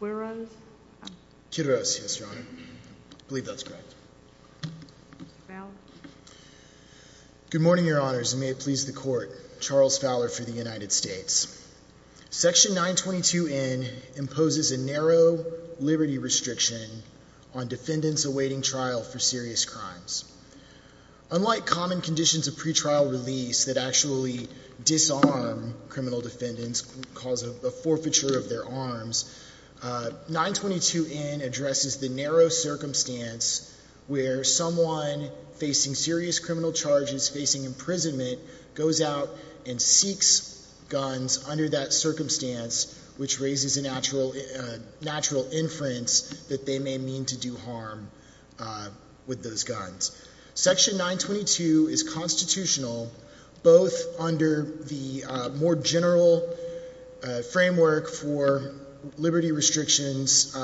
Quiroz. Quiroz, yes your honor. I believe that's correct. Fowler. Good morning your honors and may it please the court. Charles Fowler for the United States. Section 922n imposes a narrow liberty restriction on defendants awaiting trial for serious crimes. Unlike common conditions of pretrial release that disarm criminal defendants, cause a forfeiture of their arms, 922n addresses the narrow circumstance where someone facing serious criminal charges facing imprisonment goes out and seeks guns under that circumstance which raises a natural natural inference that they may mean to do harm with those guns. Section 922 is constitutional both under the more general framework for liberty restrictions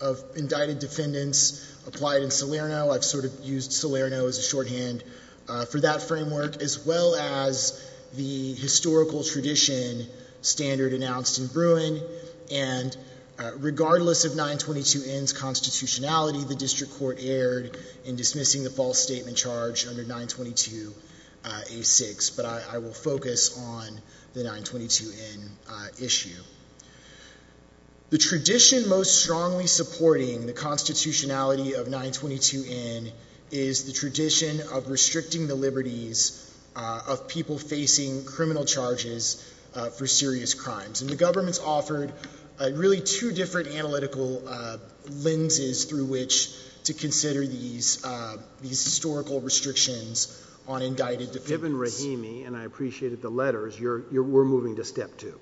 of indicted defendants applied in Salerno. I've sort of used Salerno as a shorthand for that framework as well as the historical tradition standard announced in Bruin and regardless of 922n's constitutionality the district court erred in dismissing the false statement charge under 922a6 but I will focus on the 922n issue. The tradition most strongly supporting the constitutionality of 922n is the tradition of restricting the liberties of people facing criminal charges for serious crimes and the government's offered really two different analytical lenses through which to consider these historical restrictions on indicted defendants. Given Rahimi and I appreciated the letters you're you're we're moving to step two.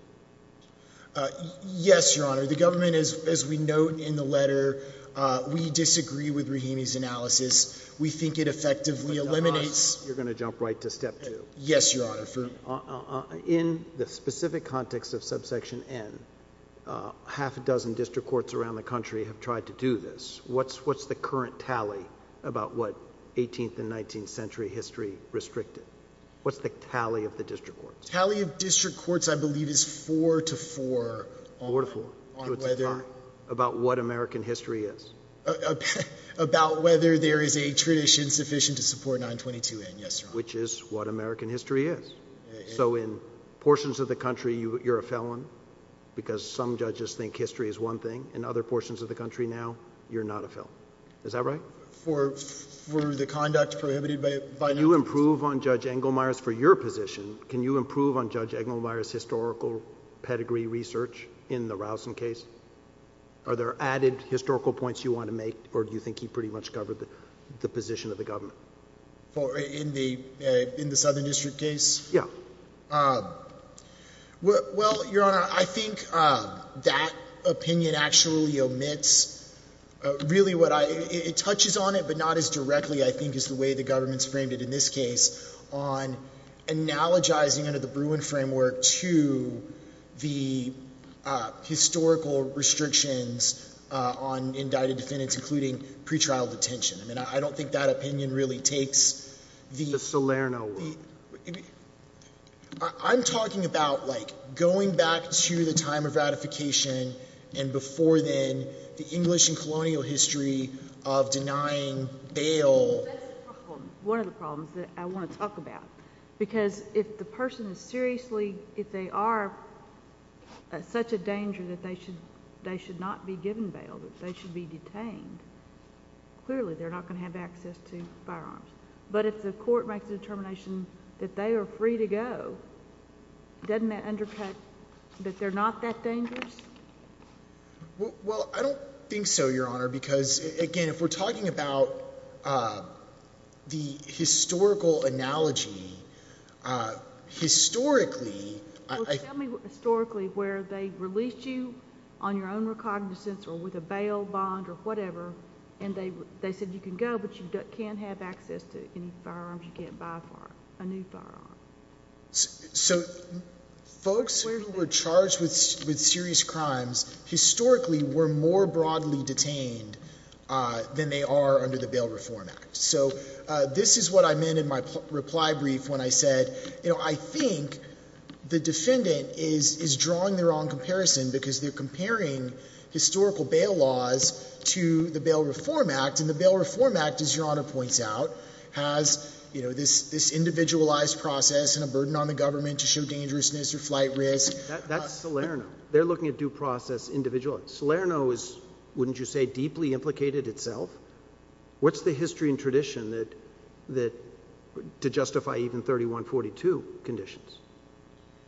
Yes your honor the government is as we note in the letter we disagree with Rahimi's analysis we think it effectively eliminates. You're going to jump right to step two. Yes your honor. In the specific context of subsection n half a dozen district courts around the country have tried to do this. What's what's the current tally about what 18th and 19th century history restricted? What's the tally of the district courts? Tally of district courts I believe is four to four. Four to four. About what American history is. About whether there is a tradition sufficient to support 922n. Yes your honor. Which is what American history is. So in portions of the country you you're a felon because some judges think history is one thing and other portions of the country now you're not a felon. Is that right? For the conduct prohibited by. You improve on Judge Engelmeyer's for your position can you improve on Judge Engelmeyer's historical pedigree research in the Rowson case? Are there added historical points you want to make or do you think he pretty much covered the position of the government? For in the in the Southern District case? Yeah. Well your honor I think that opinion actually omits really what I it touches on it but not as directly I think is the way the government's framed it in this case on analogizing under the Bruin framework to the historical restrictions on indicted defendants including pretrial detention. I mean I don't think that opinion really takes the. The Salerno one. I'm talking about like going back to the time of ratification and before then the English and colonial history of denying bail. One of the problems that I want to talk about because if the person is seriously if they are such a danger that they should they should not be given bail that they should be detained. Clearly they're not going to have access to firearms but if the court makes a determination that they are free to go doesn't that undercut that they're not that dangerous? Well I don't think so your honor because again if we're talking about the historical analogy historically. Historically where they released you on your own recognizance or with a bail bond or whatever and they they said you can go but you can't have access to any firearms you can't buy a new firearm. So folks who were charged with with serious crimes historically were more broadly detained than they are under the Bail Reform Act. So this is what I meant in my reply brief when I said you know I think the defendant is is drawing their own comparison because they're comparing historical bail laws to the Bail Reform Act and the Bail Reform Act as your honor points out has you know this this individualized process and a burden on the government to show dangerousness or flight risk. That's Salerno. They're looking at due process individually. Salerno is wouldn't you say deeply implicated itself? What's the history and tradition that that to justify even 3142 conditions?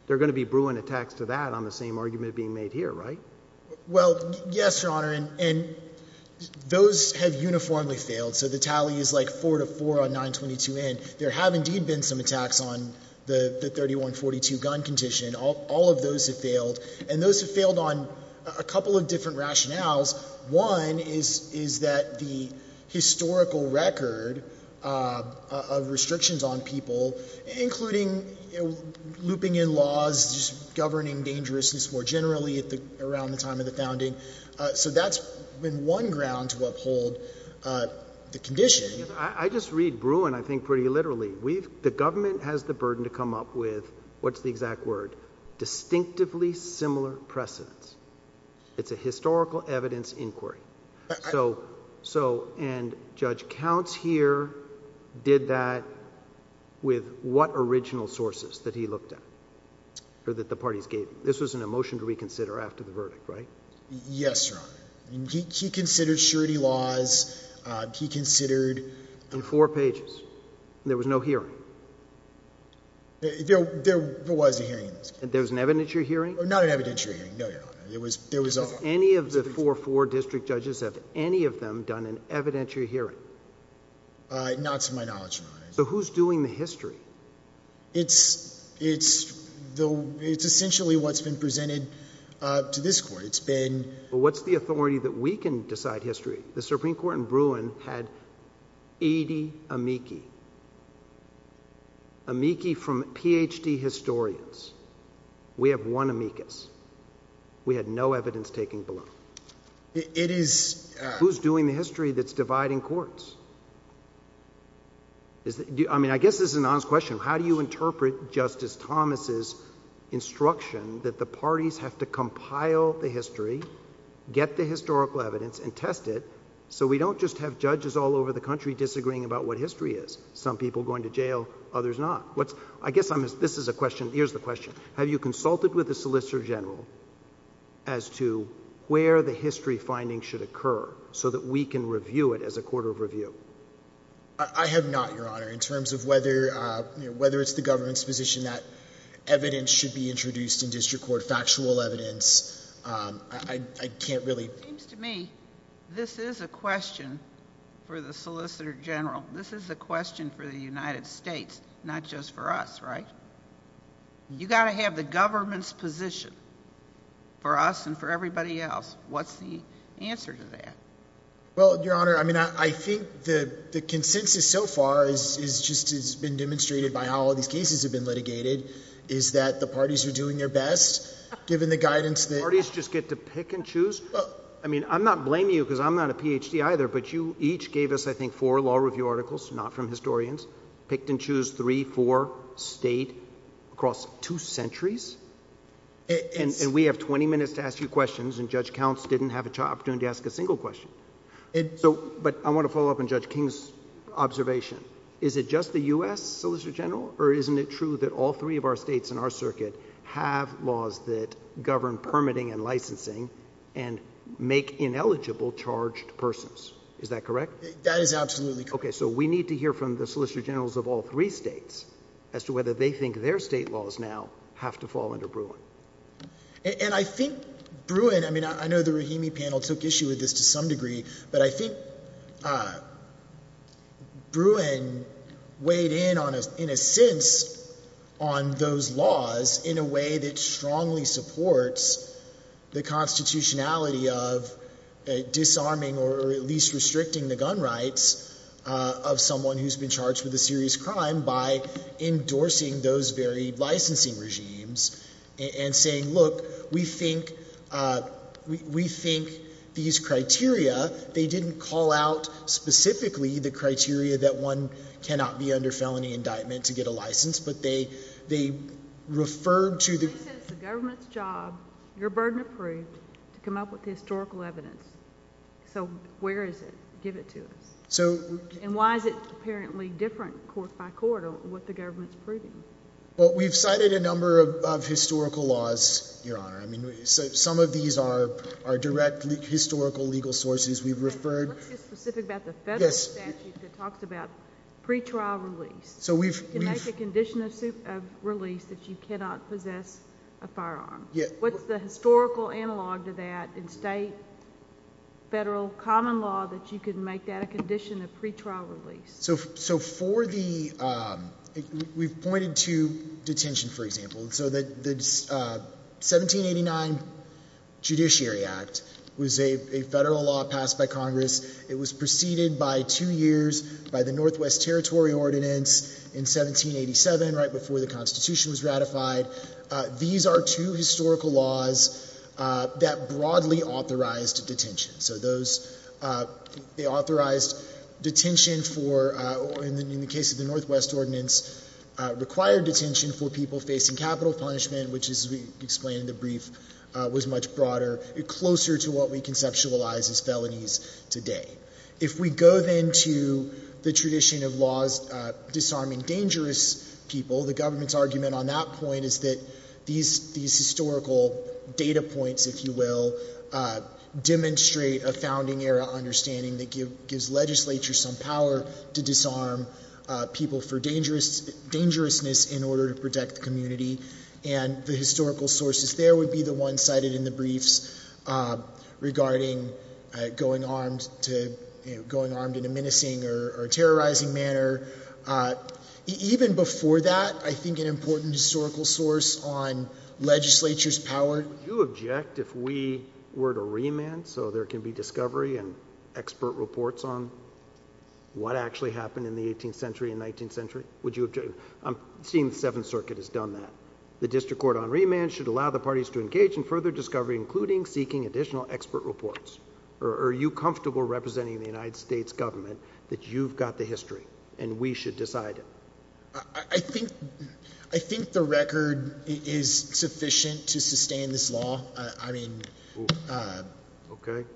They're being made here right? Well yes your honor and those have uniformly failed so the tally is like 4 to 4 on 922n. There have indeed been some attacks on the 3142 gun condition. All of those have failed and those have failed on a couple of different rationales. One is is that the historical record of restrictions on people including looping in laws just governing dangerousness more generally at the around the time of the founding. So that's been one ground to uphold the condition. I just read Bruin I think pretty literally. We've the government has the burden to come up with what's the exact word distinctively similar precedents. It's a historical evidence inquiry. So so and Judge Counts here did that with what original sources that he looked at or that the parties gave? This was an emotion to reconsider after the verdict right? Yes your honor. He considered surety laws. He considered. In four pages? There was no hearing? There was a hearing. There's an evidentiary hearing? Not an evidentiary hearing. No your honor. It was there was a. Any of the four four district judges have any of them done an So who's doing the history? It's it's though it's essentially what's been presented to this court. It's been. What's the authority that we can decide history? The Supreme Court in Bruin had 80 amici. Amici from PhD historians. We have one amicus. We had no evidence taking below. It is. Who's doing the is I mean I guess this is an honest question. How do you interpret Justice Thomas's instruction that the parties have to compile the history, get the historical evidence and test it so we don't just have judges all over the country disagreeing about what history is. Some people going to jail, others not. What's I guess I'm this is a question. Here's the question. Have you consulted with the solicitor general as to where the history findings should I have not your honor in terms of whether whether it's the government's position that evidence should be introduced in district court, factual evidence. I can't really seems to me this is a question for the solicitor general. This is a question for the United States, not just for us, right? You gotta have the government's position for us and for everybody else. What's the answer to that? Well, your honor, I mean, I think that the consensus so far is just has been demonstrated by how all these cases have been litigated. Is that the parties are doing their best given the guidance that parties just get to pick and choose. I mean, I'm not blaming you because I'm not a PhD either, but you each gave us, I think, for law review articles, not from historians picked and choose 34 state across two centuries and we have 20 minutes to ask you questions and judge counts didn't have a job doing to ask a single question. So, but I want to follow up on Judge King's observation. Is it just the U. S. Solicitor General or isn't it true that all three of our states in our circuit have laws that govern permitting and licensing and make ineligible charged persons? Is that correct? That is absolutely okay. So we need to hear from the solicitor generals of all three states as to whether they think their state laws now have to fall under Bruin. And I think Bruin, I mean, I know the Rahimi panel took issue with this to some degree, but I think, uh, Bruin weighed in on a, in a sense on those laws in a way that strongly supports the constitutionality of disarming or at least restricting the gun rights, uh, of someone who's been charged with a serious crime by endorsing those very licensing regimes and saying, look, we think, uh, we think these criteria, they didn't call out specifically the criteria that one cannot be under felony indictment to get a license, but they, they referred to the government's job, your burden approved to come up with historical evidence. So where is it? Give it to us. So and why is it apparently different court by court on what the government's proven? Well, we've cited a number of, of historical laws, your honor. I mean, some of these are, are directly historical legal sources we've referred. Let's get specific about the federal statute that talks about pre-trial release. So we've, we've made a condition of release that you cannot possess a firearm. What's the historical analog to that in state, federal, common law that you could make at a condition of pre-trial release? So, so for the, um, we've pointed to detention, for example, so that the, uh, 1789 Judiciary Act was a federal law passed by Congress. It was preceded by two years by the Northwest Territory Ordinance in 1787, right before the constitution was ratified. Uh, these are two historical laws, uh, that broadly authorized detention. So those, uh, they authorized detention for, uh, in the case of the Northwest Ordinance, uh, required detention for people facing capital punishment, which is, as we explained in the brief, uh, was much broader, closer to what we conceptualize as felonies today. If we go then to the tradition of laws, uh, disarming dangerous people, the government's argument on that point is that these, these historical data points, if you will, uh, demonstrate a founding era understanding that give, gives legislature some power to disarm, uh, people for dangerous, dangerousness in order to protect the community. And the historical sources there would be the ones cited in the briefs, uh, regarding, uh, going armed to, you know, going armed in a menacing or terrorizing manner. Uh, even before that, I think an important historical source on legislature's power. Would you object if we were to remand so there can be discovery and expert reports on what actually happened in the 18th century and 19th century? Would you object? I'm seeing the Seventh Circuit has done that. The district court on remand should allow the parties to engage in further discovery, including seeking additional expert reports. Or are you comfortable representing the United States government that you've got the history and we should decide it? I think I think the record is sufficient to sustain this law. I mean, uh, okay.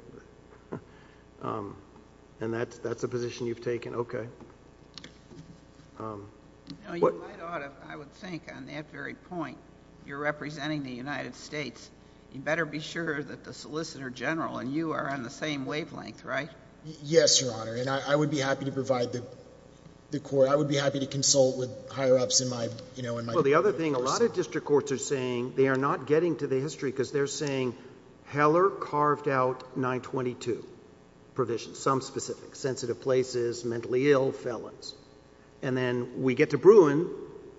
Um, and that that's a position you've taken. Okay. Um, what I would think on that very point, you're representing the United States. You better be sure that the solicitor general and you are on the same wavelength, right? Yes, Your Honor. And I would be happy to provide the the court. I would be happy to consult with higher ups in my, you know, in my the other thing, a lot of district courts are saying they are not getting to the history because they're saying Heller carved out 9 22 provisions, some specific sensitive places, mentally ill felons. And then we get to Bruin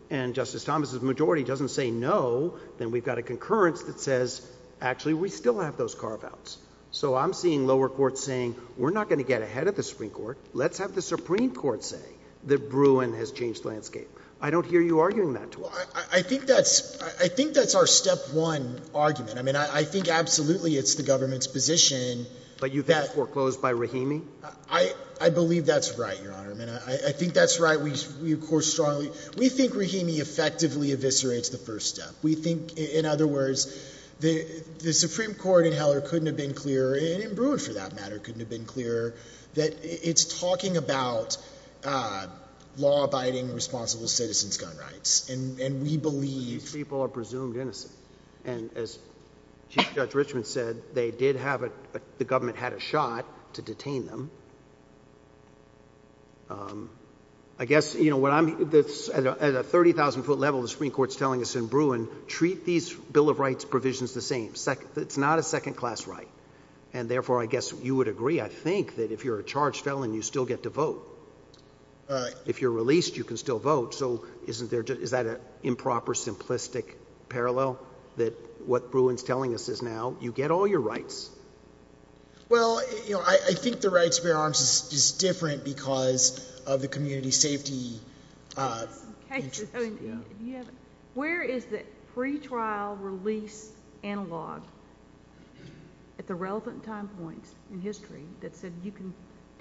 and Justice Thomas's majority doesn't say no. Then we've got a concurrence that says, actually, we still have those carve outs. So I'm seeing lower court saying we're not going to get ahead of the Supreme Court. Let's have the that Bruin has changed landscape. I don't hear you arguing that. I think that's I think that's our step one argument. I mean, I think absolutely it's the government's position, but you've got foreclosed by Rahimi. I believe that's right, Your Honor. I mean, I think that's right. We, of course, strongly we think Rahimi effectively eviscerates the first step. We think, in other words, the Supreme Court in Heller couldn't have been clear in Bruin for that matter. Couldn't have been clear that it's talking about, uh, law abiding, responsible citizens, gun rights, and we believe people are presumed innocent. And as Judge Richmond said, they did have it. The government had a shot to detain them. Um, I guess you know what? I'm at a 30,000 ft level. The Supreme Court's telling us in Bruin treat these Bill of Rights provisions the same second. It's not a second class, right? And therefore, I guess you would agree. I still get to vote. If you're released, you can still vote. So isn't there? Is that a improper, simplistic parallel that what Bruin's telling us is now you get all your rights? Well, you know, I think the right to bear arms is different because of the community safety, uh, cases. Yeah. Where is the free trial release analog at the relevant time points in history that said you can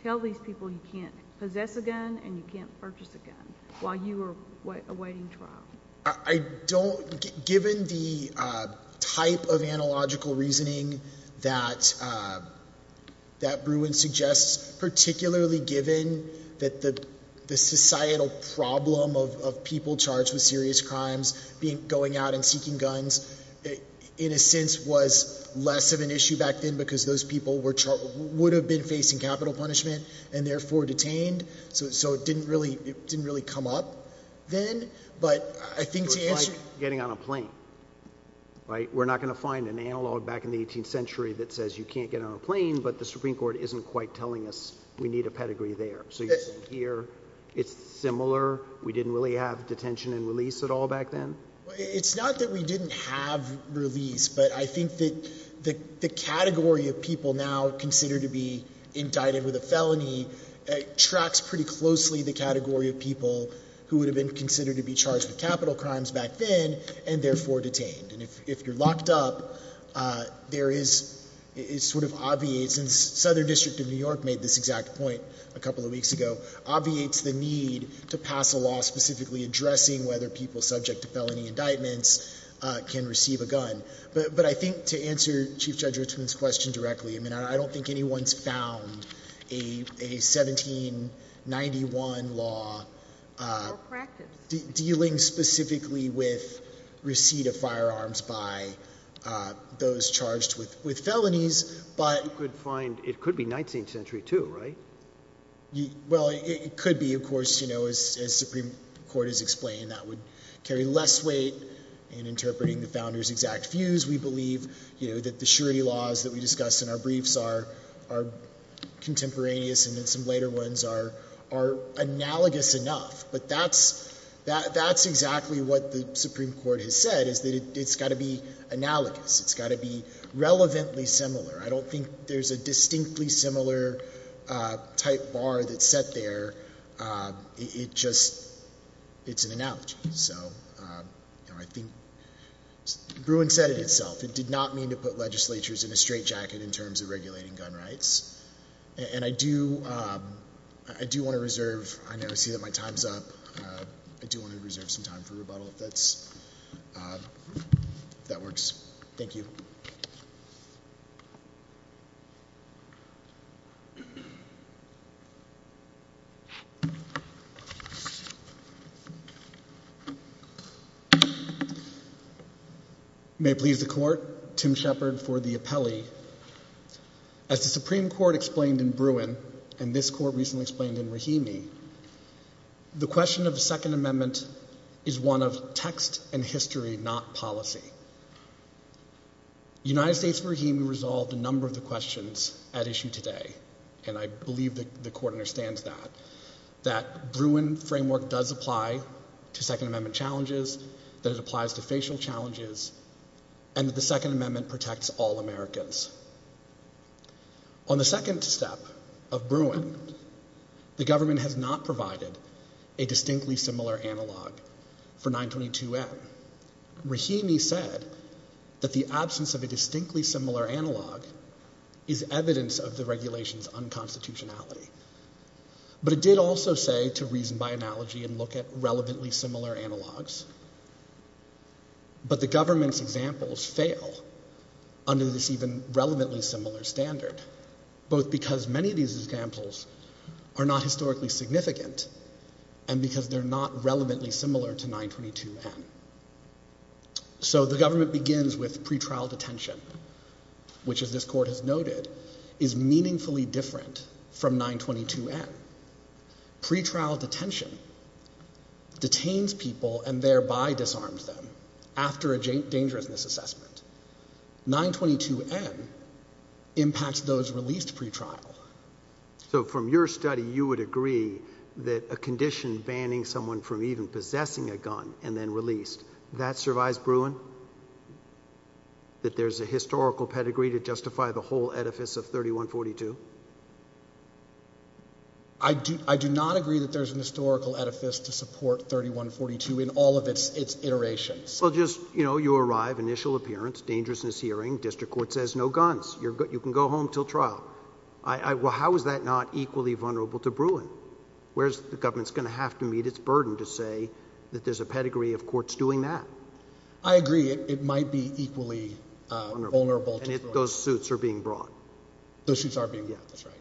tell these people you can't possess a gun and you can't purchase a gun while you were awaiting trial? I don't. Given the type of analogical reasoning that, uh, that Bruin suggests, particularly given that the societal problem of people charged with serious crimes being going out and seeking guns, in a sense, was less of an issue back then because those people were would have been facing capital punishment and therefore detained. So it didn't really didn't really come up then. But I think getting on a plane, right? We're not gonna find an analog back in the 18th century that says you can't get on a plane, but the Supreme Court isn't quite telling us we need a pedigree there. So here it's similar. We didn't really have detention in release at all back then. It's not that we didn't have release, but I think that the category of people now considered to be indicted with a felony tracks pretty closely the category of people who would have been considered to be charged with capital crimes back then and therefore detained. And if you're locked up, there is sort of obviate since Southern District of New York made this exact point a couple of weeks ago, obviates the need to pass a specifically addressing whether people subject to felony indictments can receive a gun. But I think to answer Chief Judge Richmond's question directly, I mean, I don't think anyone's found a 17 91 law, uh, dealing specifically with receipt of firearms by, uh, those charged with with felonies. But you could find it could be 19th century, too, right? Well, it could be, of course, you know, is Supreme Court has explained that would carry less weight in interpreting the founders exact views. We believe that the surety laws that we discussed in our briefs are are contemporaneous and then some later ones are are analogous enough. But that's that's exactly what the Supreme Court has said is that it's got to be analogous. It's got to be relevantly similar. I don't think there's a distinctly similar, uh, type bar that set there. Uh, it just it's an analogy. So, uh, you know, I think Bruin said it itself. It did not mean to put legislatures in a straight jacket in terms of regulating gun rights. And I do, uh, I do want to reserve. I never see that my time's up. I do want to reserve some time for rebuttal. That's, uh, that works. Thank you. Mhm. Mhm. May please the court. Tim Shepherd for the appellee. As the Supreme Court explained in Bruin and this court recently explained in Rahimi, the question of the Second Amendment is one of text and history, not policy. United States for him. Resolved a number of the questions at issue today, and I believe that the court understands that that Bruin framework does apply to Second Amendment challenges that it applies to facial challenges and the Second Amendment protects all Americans on the second step of Bruin. The government has not provided a distinctly similar analog for 9 22 M. Rahimi said that the absence of a distinctly similar analog is evidence of the regulations unconstitutionality. But it did also say to reason by analogy and look at relevantly similar analogs. But the government's examples fail under this even relevantly similar standard, both because many of these examples are not historically significant and because they're not relevantly similar to 9 22 M. So the government begins with pretrial detention, which is this court has noted is meaningfully different from 9 22 M. Pretrial detention detains people and thereby disarms them after a dangerousness assessment. 9 22 M impacts those released pretrial. So from your study, you would agree that a condition banning someone from even possessing a gun and then released that survives Bruin that there's a historical pedigree to justify the whole edifice of 31 42. I do. I do not agree that there's an historical edifice to support 31 42 in all of its its iterations. Well, just, you know, you arrive initial appearance, dangerousness hearing. District Court says no guns. You're good. You can go home till trial. I Well, how is that not equally vulnerable to Bruin? Where's the government's gonna have to meet its burden to say that there's a pedigree of courts doing that? I agree. It might be equally vulnerable. Those suits are being brought. Those suits are being. Yeah, that's right.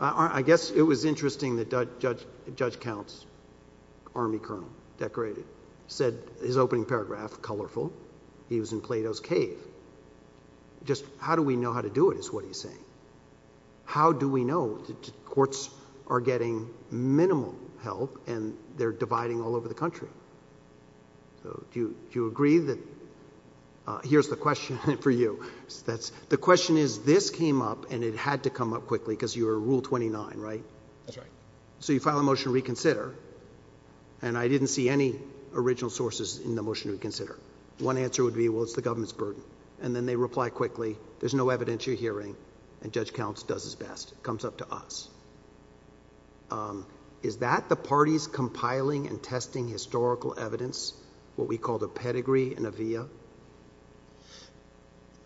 I guess it was interesting that Judge Judge Counts, Army Colonel decorated, said his opening paragraph colorful. He was in Plato's cave. Just how do we know how to do it is what he's saying. How do we know that are getting minimal help and they're dividing all over the country? Do you agree that here's the question for you? That's the question is, this came up and it had to come up quickly because you're rule 29, right? That's right. So you file a motion to reconsider, and I didn't see any original sources in the motion to reconsider. One answer would be, Well, it's the government's burden, and then they reply quickly. There's no evidence you're hearing, and Judge Counts does his best. It comes up to us. Um, is that the parties compiling and testing historical evidence? What we called a pedigree in a via?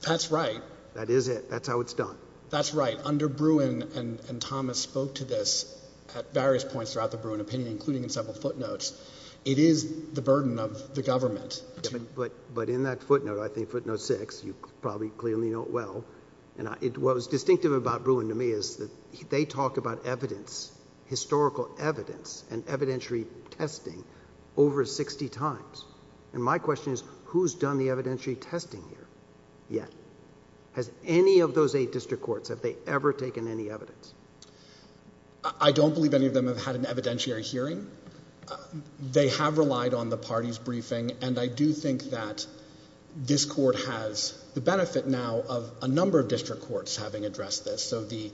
That's right. That is it. That's how it's done. That's right. Under Bruin and Thomas spoke to this at various points throughout the Bruin opinion, including in several footnotes. It is the burden of the government. But but in that footnote, I think footnote six, you probably clearly know it well, and it was distinctive about Bruin to me is that they talk about evidence, historical evidence and evidentiary testing over 60 times. And my question is, who's done the evidentiary testing here yet? Has any of those eight district courts have they ever taken any evidence? I don't believe any of them have had an evidentiary hearing. They have relied on the party's briefing, and I do think that this court has the benefit now of a number of district courts having addressed this. So the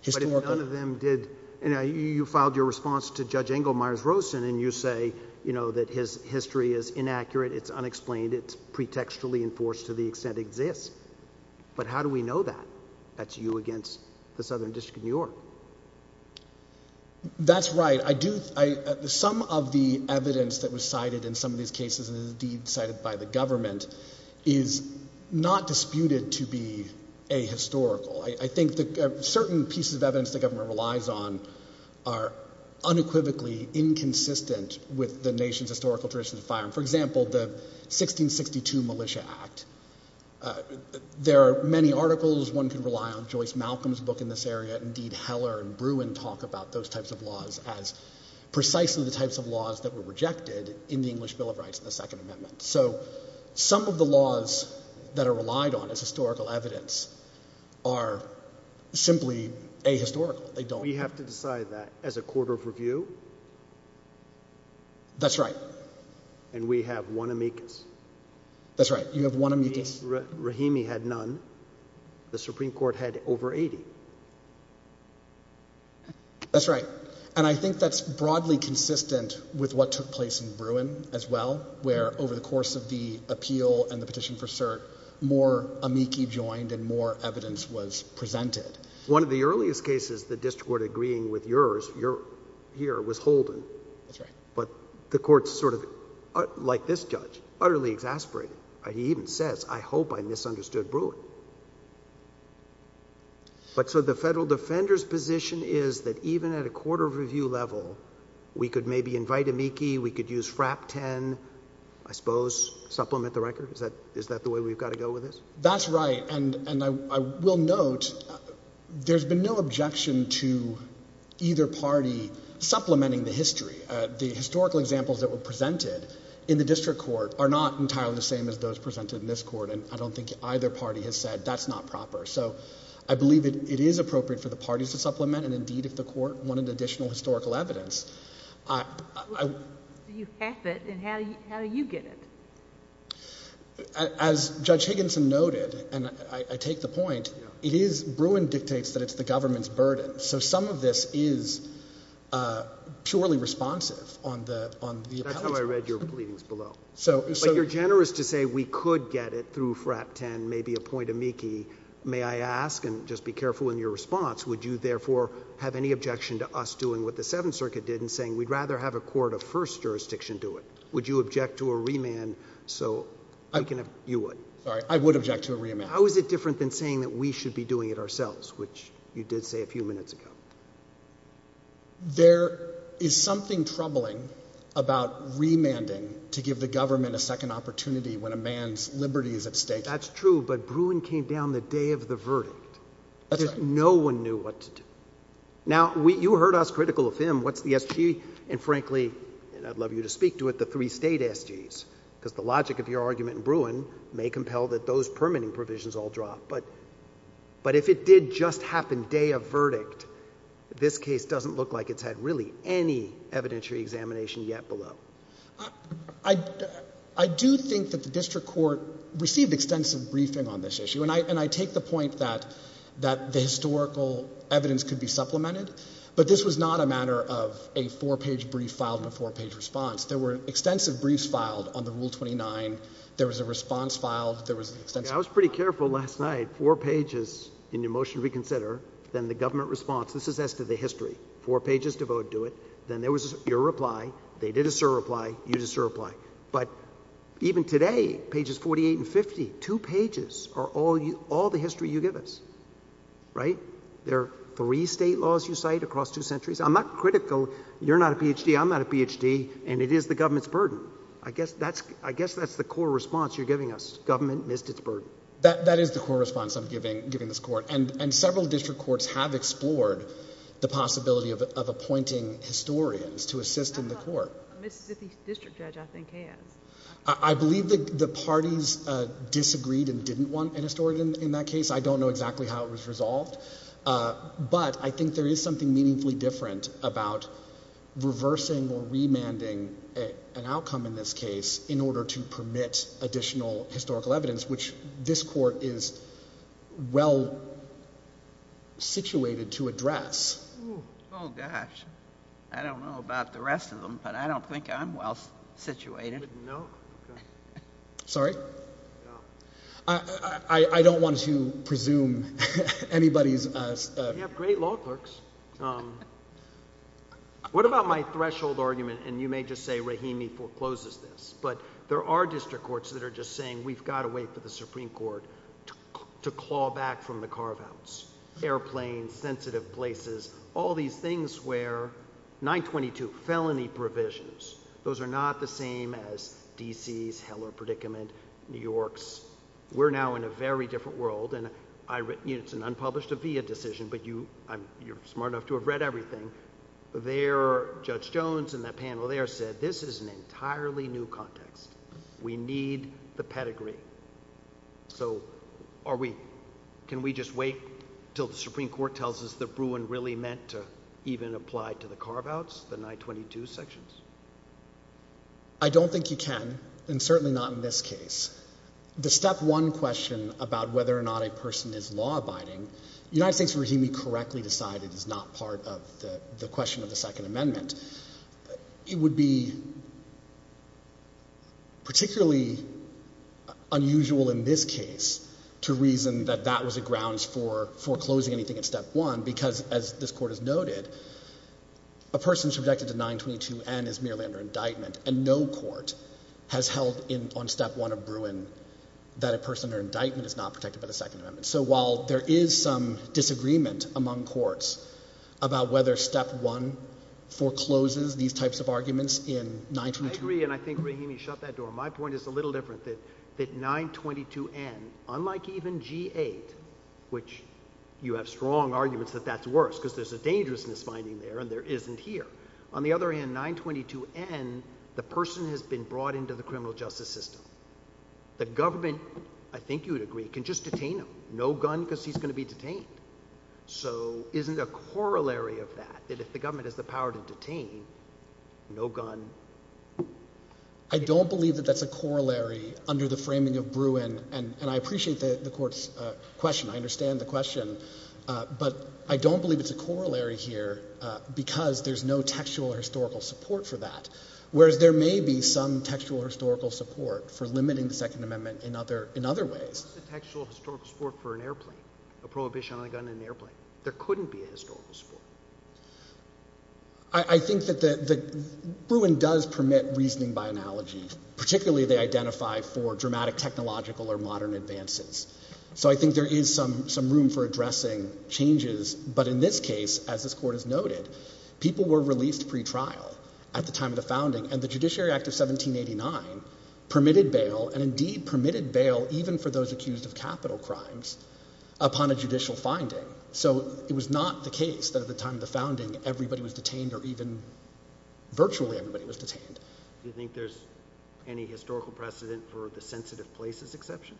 historical none of them did. You filed your response to Judge Engelmeyer's Rosen, and you say you know that his history is inaccurate. It's unexplained. It's pretextually enforced to the extent exists. But how do we know that that's you against the Southern District of New York? That's right. I do. Some of the evidence that was cited in some of these cases cited by the government is not disputed to be a historical. I think that certain pieces of evidence the government relies on are unequivocally inconsistent with the nation's historical traditions of firing. For example, the 1662 Militia Act. There are many articles. One could rely on Joyce Malcolm's book in this area. Indeed, Heller and Bruin talk about those types of laws as precisely the Bill of Rights in the Second Amendment. So some of the laws that are relied on as historical evidence are simply ahistorical. They don't. We have to decide that as a court of review. That's right. And we have one amicus. That's right. You have one amicus. Rahimi had none. The Supreme Court had over 80. That's right. And I think that's broadly consistent with what took place in New York as well, where over the course of the appeal and the petition for cert, more amici joined and more evidence was presented. One of the earliest cases, the district court agreeing with yours, here, was Holden. That's right. But the court's sort of, like this judge, utterly exasperated. He even says, I hope I misunderstood Bruin. But so the federal defender's position is that even at a court of review level, we could maybe invite amici, we could use FRAP 10, I suppose, supplement the record? Is that the way we've got to go with this? That's right. And I will note, there's been no objection to either party supplementing the history. The historical examples that were presented in the district court are not entirely the same as those presented in this court. And I don't think either party has said that's not proper. So I believe it is appropriate for the parties to supplement. And indeed, if the court wanted additional historical evidence, I... You have it, and how do you get it? As Judge Higginson noted, and I take the point, it is, Bruin dictates that it's the government's burden. So some of this is purely responsive on the... That's how I read your readings below. So... But you're generous to say we could get it through FRAP 10, maybe appoint amici. May I ask, and just be careful in your response, would you therefore have any objection to us doing what the Seventh Circuit did in saying we'd rather have a court of first jurisdiction do it? Would you object to a remand so I can have... You would. Sorry, I would object to a remand. How is it different than saying that we should be doing it ourselves, which you did say a few minutes ago? There is something troubling about remanding to give the government a second opportunity when a man's liberty is at stake. That's true, but Bruin came down the day of the verdict. No one knew what to do. Now, you heard us critical of him. What's the SG? And frankly, and I'd love you to speak to it, the three state SGs, because the logic of your argument in Bruin may compel that those permitting provisions all drop. But if it did just happen day of verdict, this case doesn't look like it's had really any evidentiary examination yet below. I do think that the district court received extensive briefing on this issue, and I take the point that the historical evidence could be supplemented, but this was not a matter of a four-page brief filed in a four-page response. There were extensive briefs filed on the Rule 29. There was a response filed. I was pretty careful last night. Four pages in the motion reconsider, then the government response. This is as to the history. Four pages devoted to it. Then there was your reply. They did a two pages are all the history you give us, right? There are three state laws you cite across two centuries. I'm not critical. You're not a PhD. I'm not a PhD, and it is the government's burden. I guess that's the core response you're giving us. Government missed its burden. That is the core response I'm giving this court, and several district courts have explored the possibility of appointing historians to assist in the court. Mississippi District Judge, I think, has. I believe that the parties disagreed and didn't want an historian in that case. I don't know exactly how it was resolved, but I think there is something meaningfully different about reversing or remanding an outcome in this case in order to permit additional historical evidence, which this court is well situated to address. Oh, gosh, I don't know about the rest of them, but I don't think I'm well situated. No. Sorry. I don't want to presume anybody's great law clerks. What about my threshold argument? And you may just say, Rahimi forecloses this, but there are district courts that are just saying we've got to wait for the Supreme Court to claw back from the carve outs. Airplanes, sensitive places, all these things where 9 22 felony provisions. Those are not the same as D. C. S. Heller predicament. New York's. We're now in a very different world, and I written units and unpublished a via decision. But you you're smart enough to have read everything there. Judge Jones and that panel there said this is an entirely new context. We need the pedigree. So are we? Can we just wait till the Supreme Court tells us the Bruin really meant to even apply to the carve outs the 9 22 sections? I don't think you can, and certainly not in this case. The step one question about whether or not a person is law abiding United States regime, he correctly decided is not part of the question of the Second Amendment. It would be particularly unusual in this case to reason that that was a grounds for foreclosing anything in step one, because, as this court has noted, a person subjected to 9 22 and is merely under indictment, and no court has held in on step one of Bruin that a person or indictment is not protected by the Second Amendment. So while there is some disagreement among courts about whether step one forecloses these types of arguments in 1993, and I think he shut that door. My point is a little different that that 9 22 and unlike even G eight, which you have strong arguments that that's worse because there's a dangerousness finding there and there isn't here. On the other hand, 9 22 and the person has been brought into the criminal justice system. The government, I think you would agree, can just detain him. No gun because he's gonna be detained. So isn't a corollary of that, that if the government has the power to detain no gun I don't believe that that's a corollary under the framing of Bruin, and I appreciate the court's question. I understand the question, but I don't believe it's a corollary here because there's no textual historical support for that. Whereas there may be some textual historical support for limiting the Second Amendment in other in other ways, textual historical support for an airplane, a prohibition on the gun in the airplane. There couldn't be a historical support. I think that the Bruin does permit reasoning by analogy, particularly they identify for dramatic technological or modern advances. So I think there is some some room for addressing changes. But in this case, as this court is noted, people were released pretrial at the time of the founding and the Judiciary Act of 17 89 permitted bail and indeed permitted bail even for those accused of capital crimes upon a judicial finding. So it was not the case that at the time of the founding, everybody was detained or even virtually everybody was detained. Do you think there's any historical precedent for the sensitive places exception?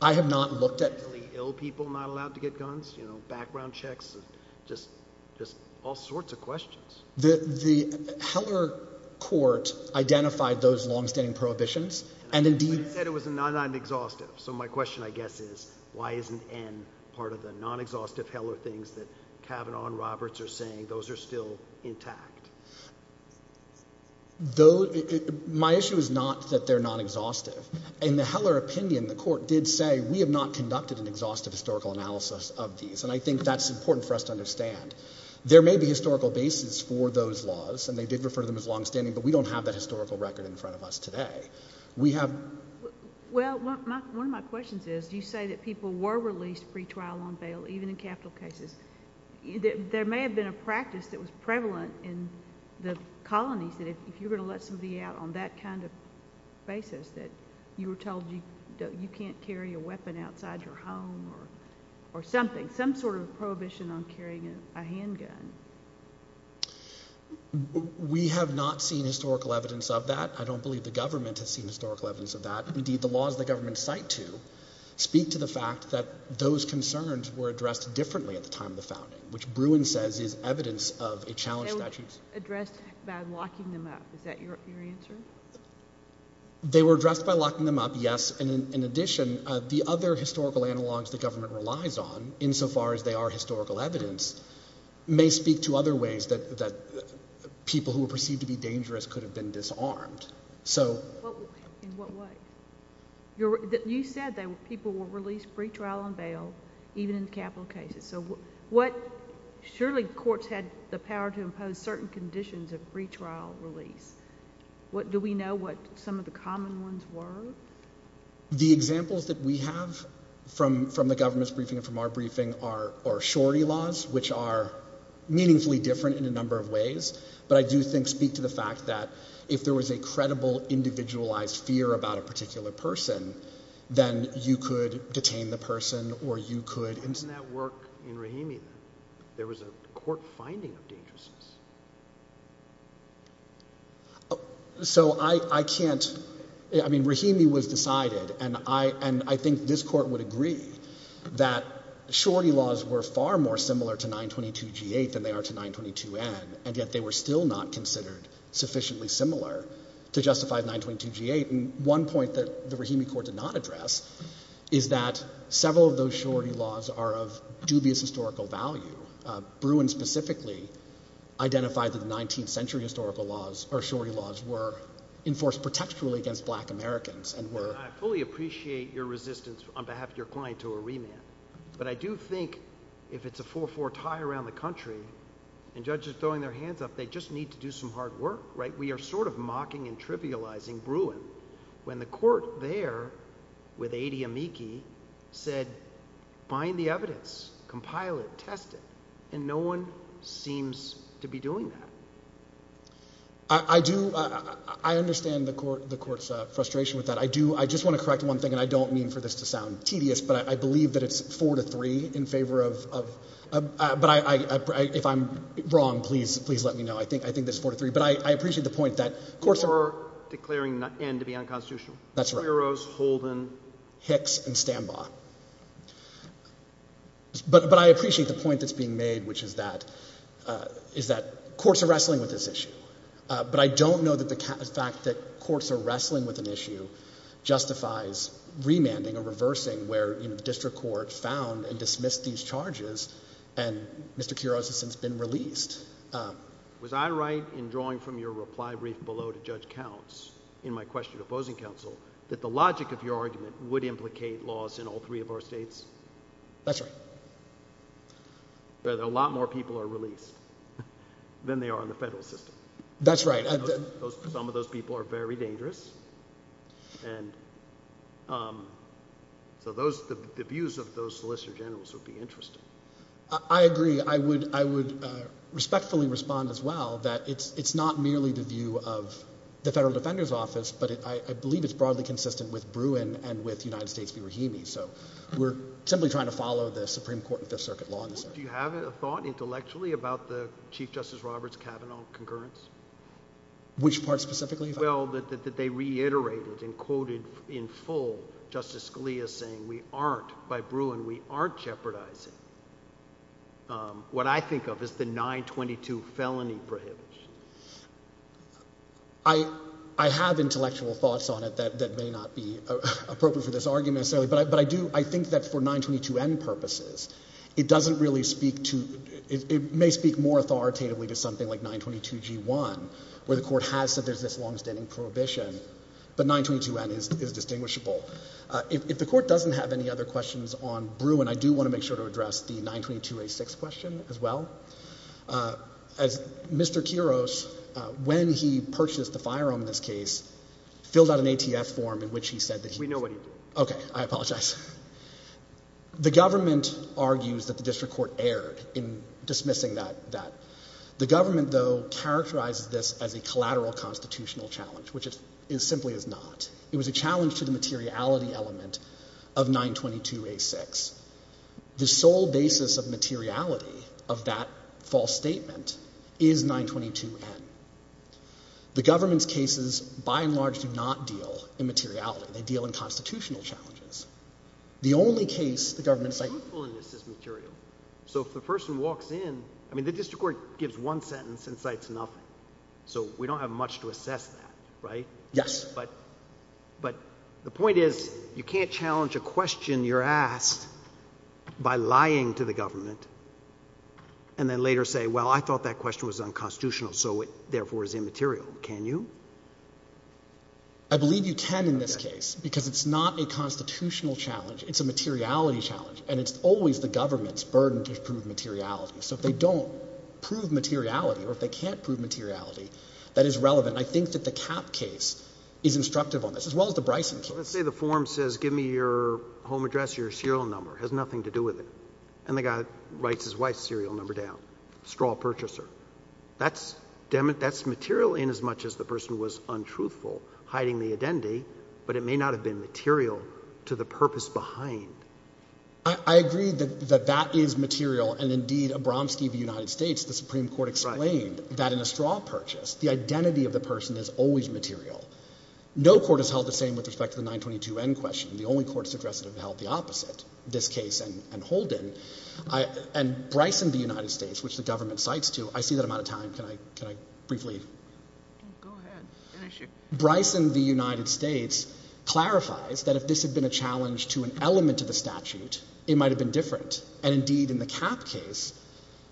I have not looked at really ill people not allowed to get guns, you know, background checks, just just all sorts of questions. The Heller court identified those longstanding prohibitions and indeed said it was not an exhaustive. So my question, I guess, is why isn't N part of the non exhaustive Heller things that Kavanaugh and Roberts are saying? Those are still intact, though. My issue is not that they're not exhaustive. In the Heller opinion, the court did say we have not conducted an exhaustive historical analysis of these, and I think that's important for us to understand. There may be historical bases for those laws, and they did refer to them as longstanding. But we don't have that historical record in front of us today. We have. Well, one of my questions is you say that people were released pre trial on bail, even in capital cases. There may have been a practice that was prevalent in the colonies that if you're gonna let somebody out on that kind of basis that you were told you can't carry a weapon outside your home or or something, some sort of prohibition on carrying a handgun. We have not seen historical evidence of that. I don't believe the government has historical evidence of that. Indeed, the laws the government site to speak to the fact that those concerns were addressed differently at the time of the founding, which Bruin says is evidence of a challenge that she's addressed by locking them up. Is that your answer? They were addressed by locking them up. Yes. And in addition, the other historical analogs the government relies on insofar as they are historical evidence may speak to other ways that that people who were perceived to be dangerous could have been disarmed. So in what way? You said that people were released pre trial on bail, even in capital cases. So what? Surely courts had the power to impose certain conditions of pre trial release. What do we know? What? Some of the common ones were the examples that we have from from the government's briefing from our briefing are or shorty laws, which are meaningfully different in a number of ways. But I do think speak to the fact that if there was a credible individualized fear about a particular person, then you could detain the person or you could in that work in Rahimi, there was a court finding of dangerousness. So I can't. I mean, Rahimi was decided and I and I think this court would agree that shorty laws were far more similar to 922 G8 than they are to 922 N. And yet they were still not considered sufficiently similar to justify 922 G8. And one point that the Rahimi court did not address is that several of those shorty laws are of dubious historical value. Bruin specifically identified that the 19th century historical laws or shorty laws were enforced protect truly against black Americans and were fully appreciate your resistance on behalf of your client to a remand. But I do think if it's a four four tie around the country and judges throwing their hands up, they just need to do some hard work, right? We are sort of mocking and trivializing Bruin when the court there with 80 amici said, find the evidence, compile it, test it. And no one seems to be doing that. I do. I understand the court, the court's frustration with that. I do. I just want to correct one thing, and I don't mean for this to sound tedious, but I believe that it's four to three in favor of, but I, if I'm wrong, please, please let me know. I think this is four to three. But I appreciate the point that courts are. You are declaring N to be unconstitutional. That's right. Quiros, Holden. Hicks and Stambaugh. But I appreciate the point that's being made, which is that courts are wrestling with this issue. But I don't know that the fact that courts are wrestling with an issue justifies remanding or reversing where, you know, the district court found and dismissed these charges, and Mr. Quiros has since been released. Was I right in drawing from your reply brief below to Judge Counts in my question to opposing counsel that the logic of your argument would implicate loss in all three of our states? That's right. But a lot more people are released than they are in the federal system. That's right. Some of those people are very dangerous. And so those, the views of those solicitor generals would be interesting. I agree. I would respectfully respond as well that it's not merely the view of the Federal Defender's Office, but I believe it's broadly consistent with Bruin and with United States v. Rahimi. So we're simply trying to follow the Supreme Court and Fifth Circuit law in this area. Do you have a thought intellectually about the Chief Justice Roberts-Kavanaugh concurrence? Which part specifically? Well, that they reiterated and quoted in full Justice Scalia saying we aren't, by Bruin, we aren't jeopardizing what I think of as the 922 felony prohibition. I have intellectual thoughts on it that may not be appropriate for this argument necessarily, but I do, I think that for 922N purposes, it doesn't really speak to, it may speak more authoritatively to something like 922G1, where the Court has said there's this longstanding prohibition, but 922N is distinguishable. If the Court doesn't have any other questions on Bruin, I do want to make sure to address the 922A6 question as well. As Mr. Quiros, when he purchased the firearm in this case, filled out an ATF form in which he said that he... We know what he did. Okay. I apologize. The government argues that the district court erred in dismissing that. The government, though, characterizes this as a collateral constitutional challenge, which it simply is not. It was a challenge to the materiality element of 922A6. The sole basis of materiality of that false statement is 922N. The government's cases, by and large, do not deal in materiality. They deal in constitutional challenges. The only case the government... Truthfulness is material. So if the person walks in, I mean, the district court gives one sentence and cites nothing. So we don't have much to assess that, right? Yes. But the point is, you can't challenge a question you're asked by lying to the government and then later say, well, I thought that question was unconstitutional, so it, therefore, is immaterial. Can you? I believe you can in this case because it's not a constitutional challenge. It's a materiality challenge, and it's always the government's burden to prove materiality. So if they don't prove materiality or if they can't prove materiality, that is relevant. I think that the Kapp case is instructive on this, as well as the Bryson case. Let's say the form says, give me your home address, your serial number. It has nothing to do with it. And the guy writes his wife's serial number down. Straw purchaser. That's material inasmuch as the person was untruthful, hiding the identity, but it may not have been material to the purpose behind. I agree that that is material. And indeed, Abramski of the United States, the Supreme Court, explained that in a straw purchase, the identity of the person is always material. No court has held the same with respect to the 922N question. The only courts addressed it have held the opposite, this case and Holden. And Bryson of the United States, which the government cites to, I see that I'm out of time. Can I, can I briefly? Bryson, the United States clarifies that if this had been a challenge to an element of the statute, it might've been different. And indeed in the Kapp case,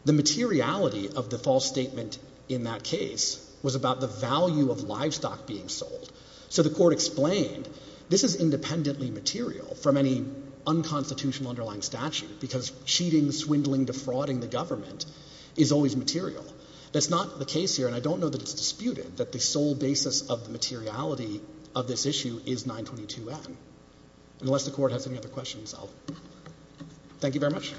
the materiality of the false statement in that case was about the value of livestock being sold. So the court explained this is independently material from any unconstitutional underlying statute because cheating, swindling, defrauding the government is always material. That's not the case here. And I don't know that it's disputed that the sole basis of the materiality of this issue is 922N. Unless the court has any other questions, I'll, thank you very much.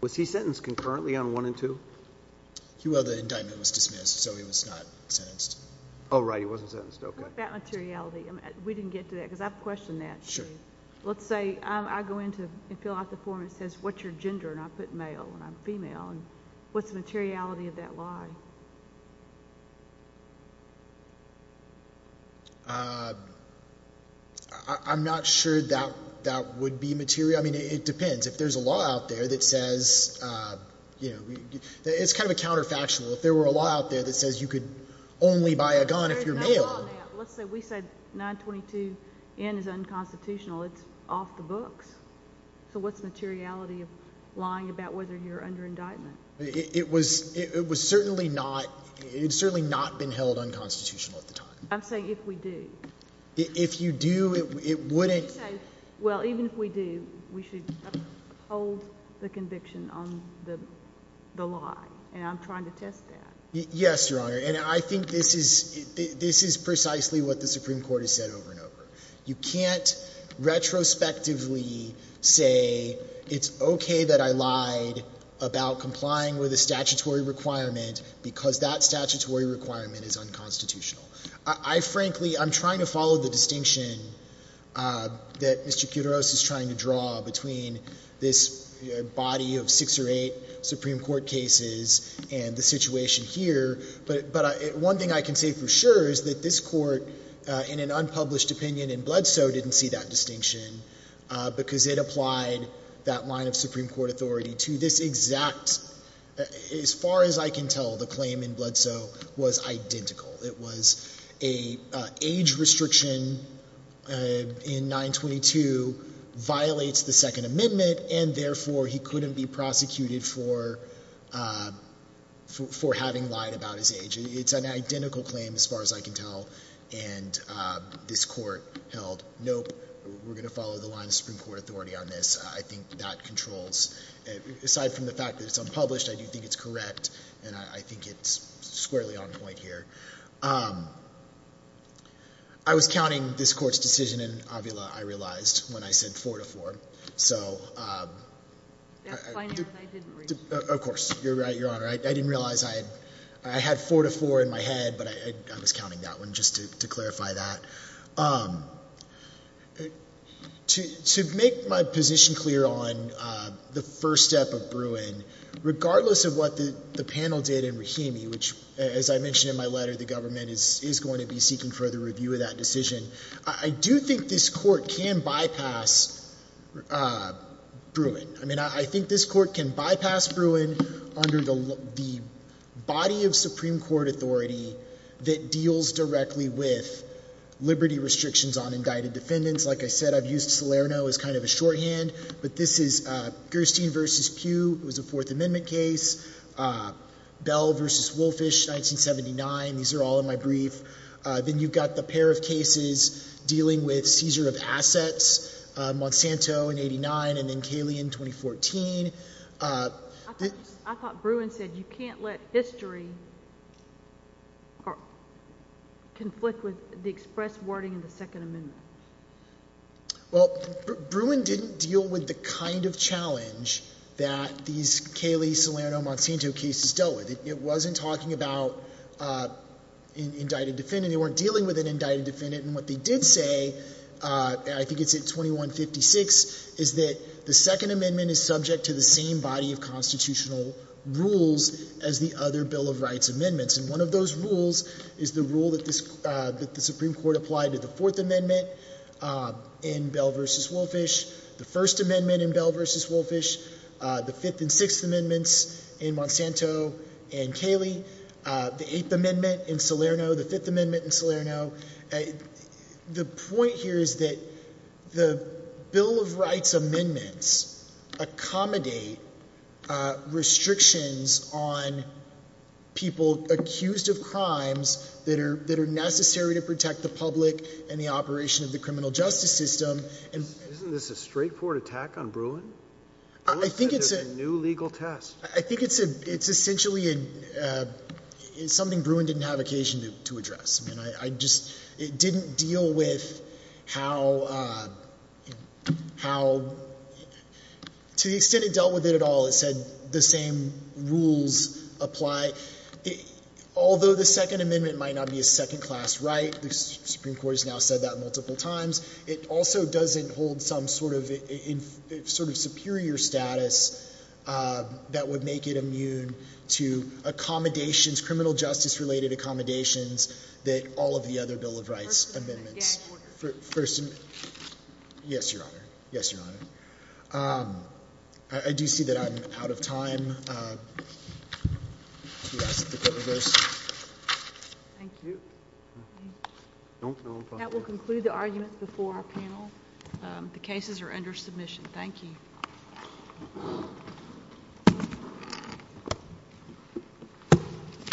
Was he sentenced concurrently on one and two? Well, the indictment was dismissed, so he was not sentenced. Oh, right. He wasn't sentenced. Okay. That materiality, we didn't get to that because I've questioned that. Let's say I go into and fill out the form and it says, what's your gender? And I put male and I'm female. And what's the materiality of that lie? Uh, I'm not sure that that would be material. I mean, it depends if there's a law out there that says, uh, you know, it's kind of a counterfactual. If there were a law out there that says you could only buy a gun if you're male. Let's say we said 922N is unconstitutional. It's off the books. So what's the materiality of lying about whether you're under indictment? It was, it was certainly not. It had certainly not been held unconstitutional at the time. I'm saying if we do. If you do, it wouldn't. Well, even if we do, we should hold the conviction on the lie. And I'm trying to test that. Yes, Your Honor. And I think this is, this is precisely what the Supreme Court has said over and over. You can't retrospectively say it's okay that I lied about complying with a statutory requirement because that statutory requirement is unconstitutional. I frankly, I'm trying to follow the distinction, uh, that Mr. Kuderos is trying to draw between this body of six or eight Supreme Court cases and the situation here. But, but one thing I can say for sure is that this court, uh, in an unpublished opinion in Bledsoe didn't see that distinction, uh, because it applied that line of Supreme Court authority to this exact, as far as I can tell, the claim in Bledsoe was identical. It was a, uh, age restriction, uh, in 922 violates the second amendment and therefore he couldn't be prosecuted for, um, for, for having lied about his age. It's an identical claim as far as I can tell. And, uh, this court held, nope, we're going to follow the line of Supreme Court authority on this. I think that controls, aside from the fact that it's unpublished, I do think it's correct and I think it's squarely on point here. Um, I was counting this court's decision in Avila, I realized when I said four to four. So, um, of course you're right, Your Honor. I didn't realize I had, I had four to four in my head, but I was counting that one just to, to clarify that. Um, to, to make my position clear on, uh, the first step of Bruin, regardless of what the, the panel did in Rahimi, which as I mentioned in my letter, the government is going to be seeking further review of that decision. I do think this court can bypass, uh, Bruin. I mean, I think this court can bypass Bruin under the, the body of Supreme Court authority that deals directly with liberty restrictions on indicted defendants. Like I said, I've used Salerno as kind of a shorthand, but this is, uh, Gerstein versus Pugh. It was a fourth amendment case. Uh, Bell versus Wolfish, 1979. These are all in my brief. Uh, then you've got the pair of cases dealing with Caesar of Assets, uh, Monsanto in 89 and then Kaley in 2014. Uh, I thought Bruin said, you can't let history conflict with the express wording in the second amendment. Well, Bruin didn't deal with the kind of challenge that these Kaley, Salerno, Monsanto cases dealt with. It wasn't talking about, uh, indicted defendant. They weren't dealing with an indicted defendant. And what they did say, uh, I think it's at 2156, is that the second amendment is subject to the same body of constitutional rules as the other bill of rights amendments. And one of those rules is the rule that this, uh, that the Supreme Court applied to the fourth amendment, uh, in Bell versus Wolfish, the first amendment in Bell versus Wolfish, uh, the fifth and sixth amendments in Monsanto and Kaley, uh, the eighth amendment in Salerno, the fifth amendment in Salerno. Uh, the point here is that the bill of rights amendments accommodate, uh, restrictions on people accused of crimes that are, that are necessary to protect the public and the operation of the criminal justice system. Isn't this a straightforward attack on Bruin? I think it's a new legal test. I think it's a, it's essentially a, uh, it's something Bruin didn't have occasion to address. I mean, I, I just, it didn't deal with how, uh, how, to the extent it dealt with it at all. It said the same rules apply. Although the second amendment might not be a second class right, the Supreme Court has now said that multiple times. It also doesn't hold some sort of sort of superior status, uh, that would make it immune to accommodations, criminal justice related accommodations that all of the other bill of rights amendments. Yes, your honor. Yes, out of time. Thank you. That will conclude the argument before our panel. The cases are under submission. Thank you.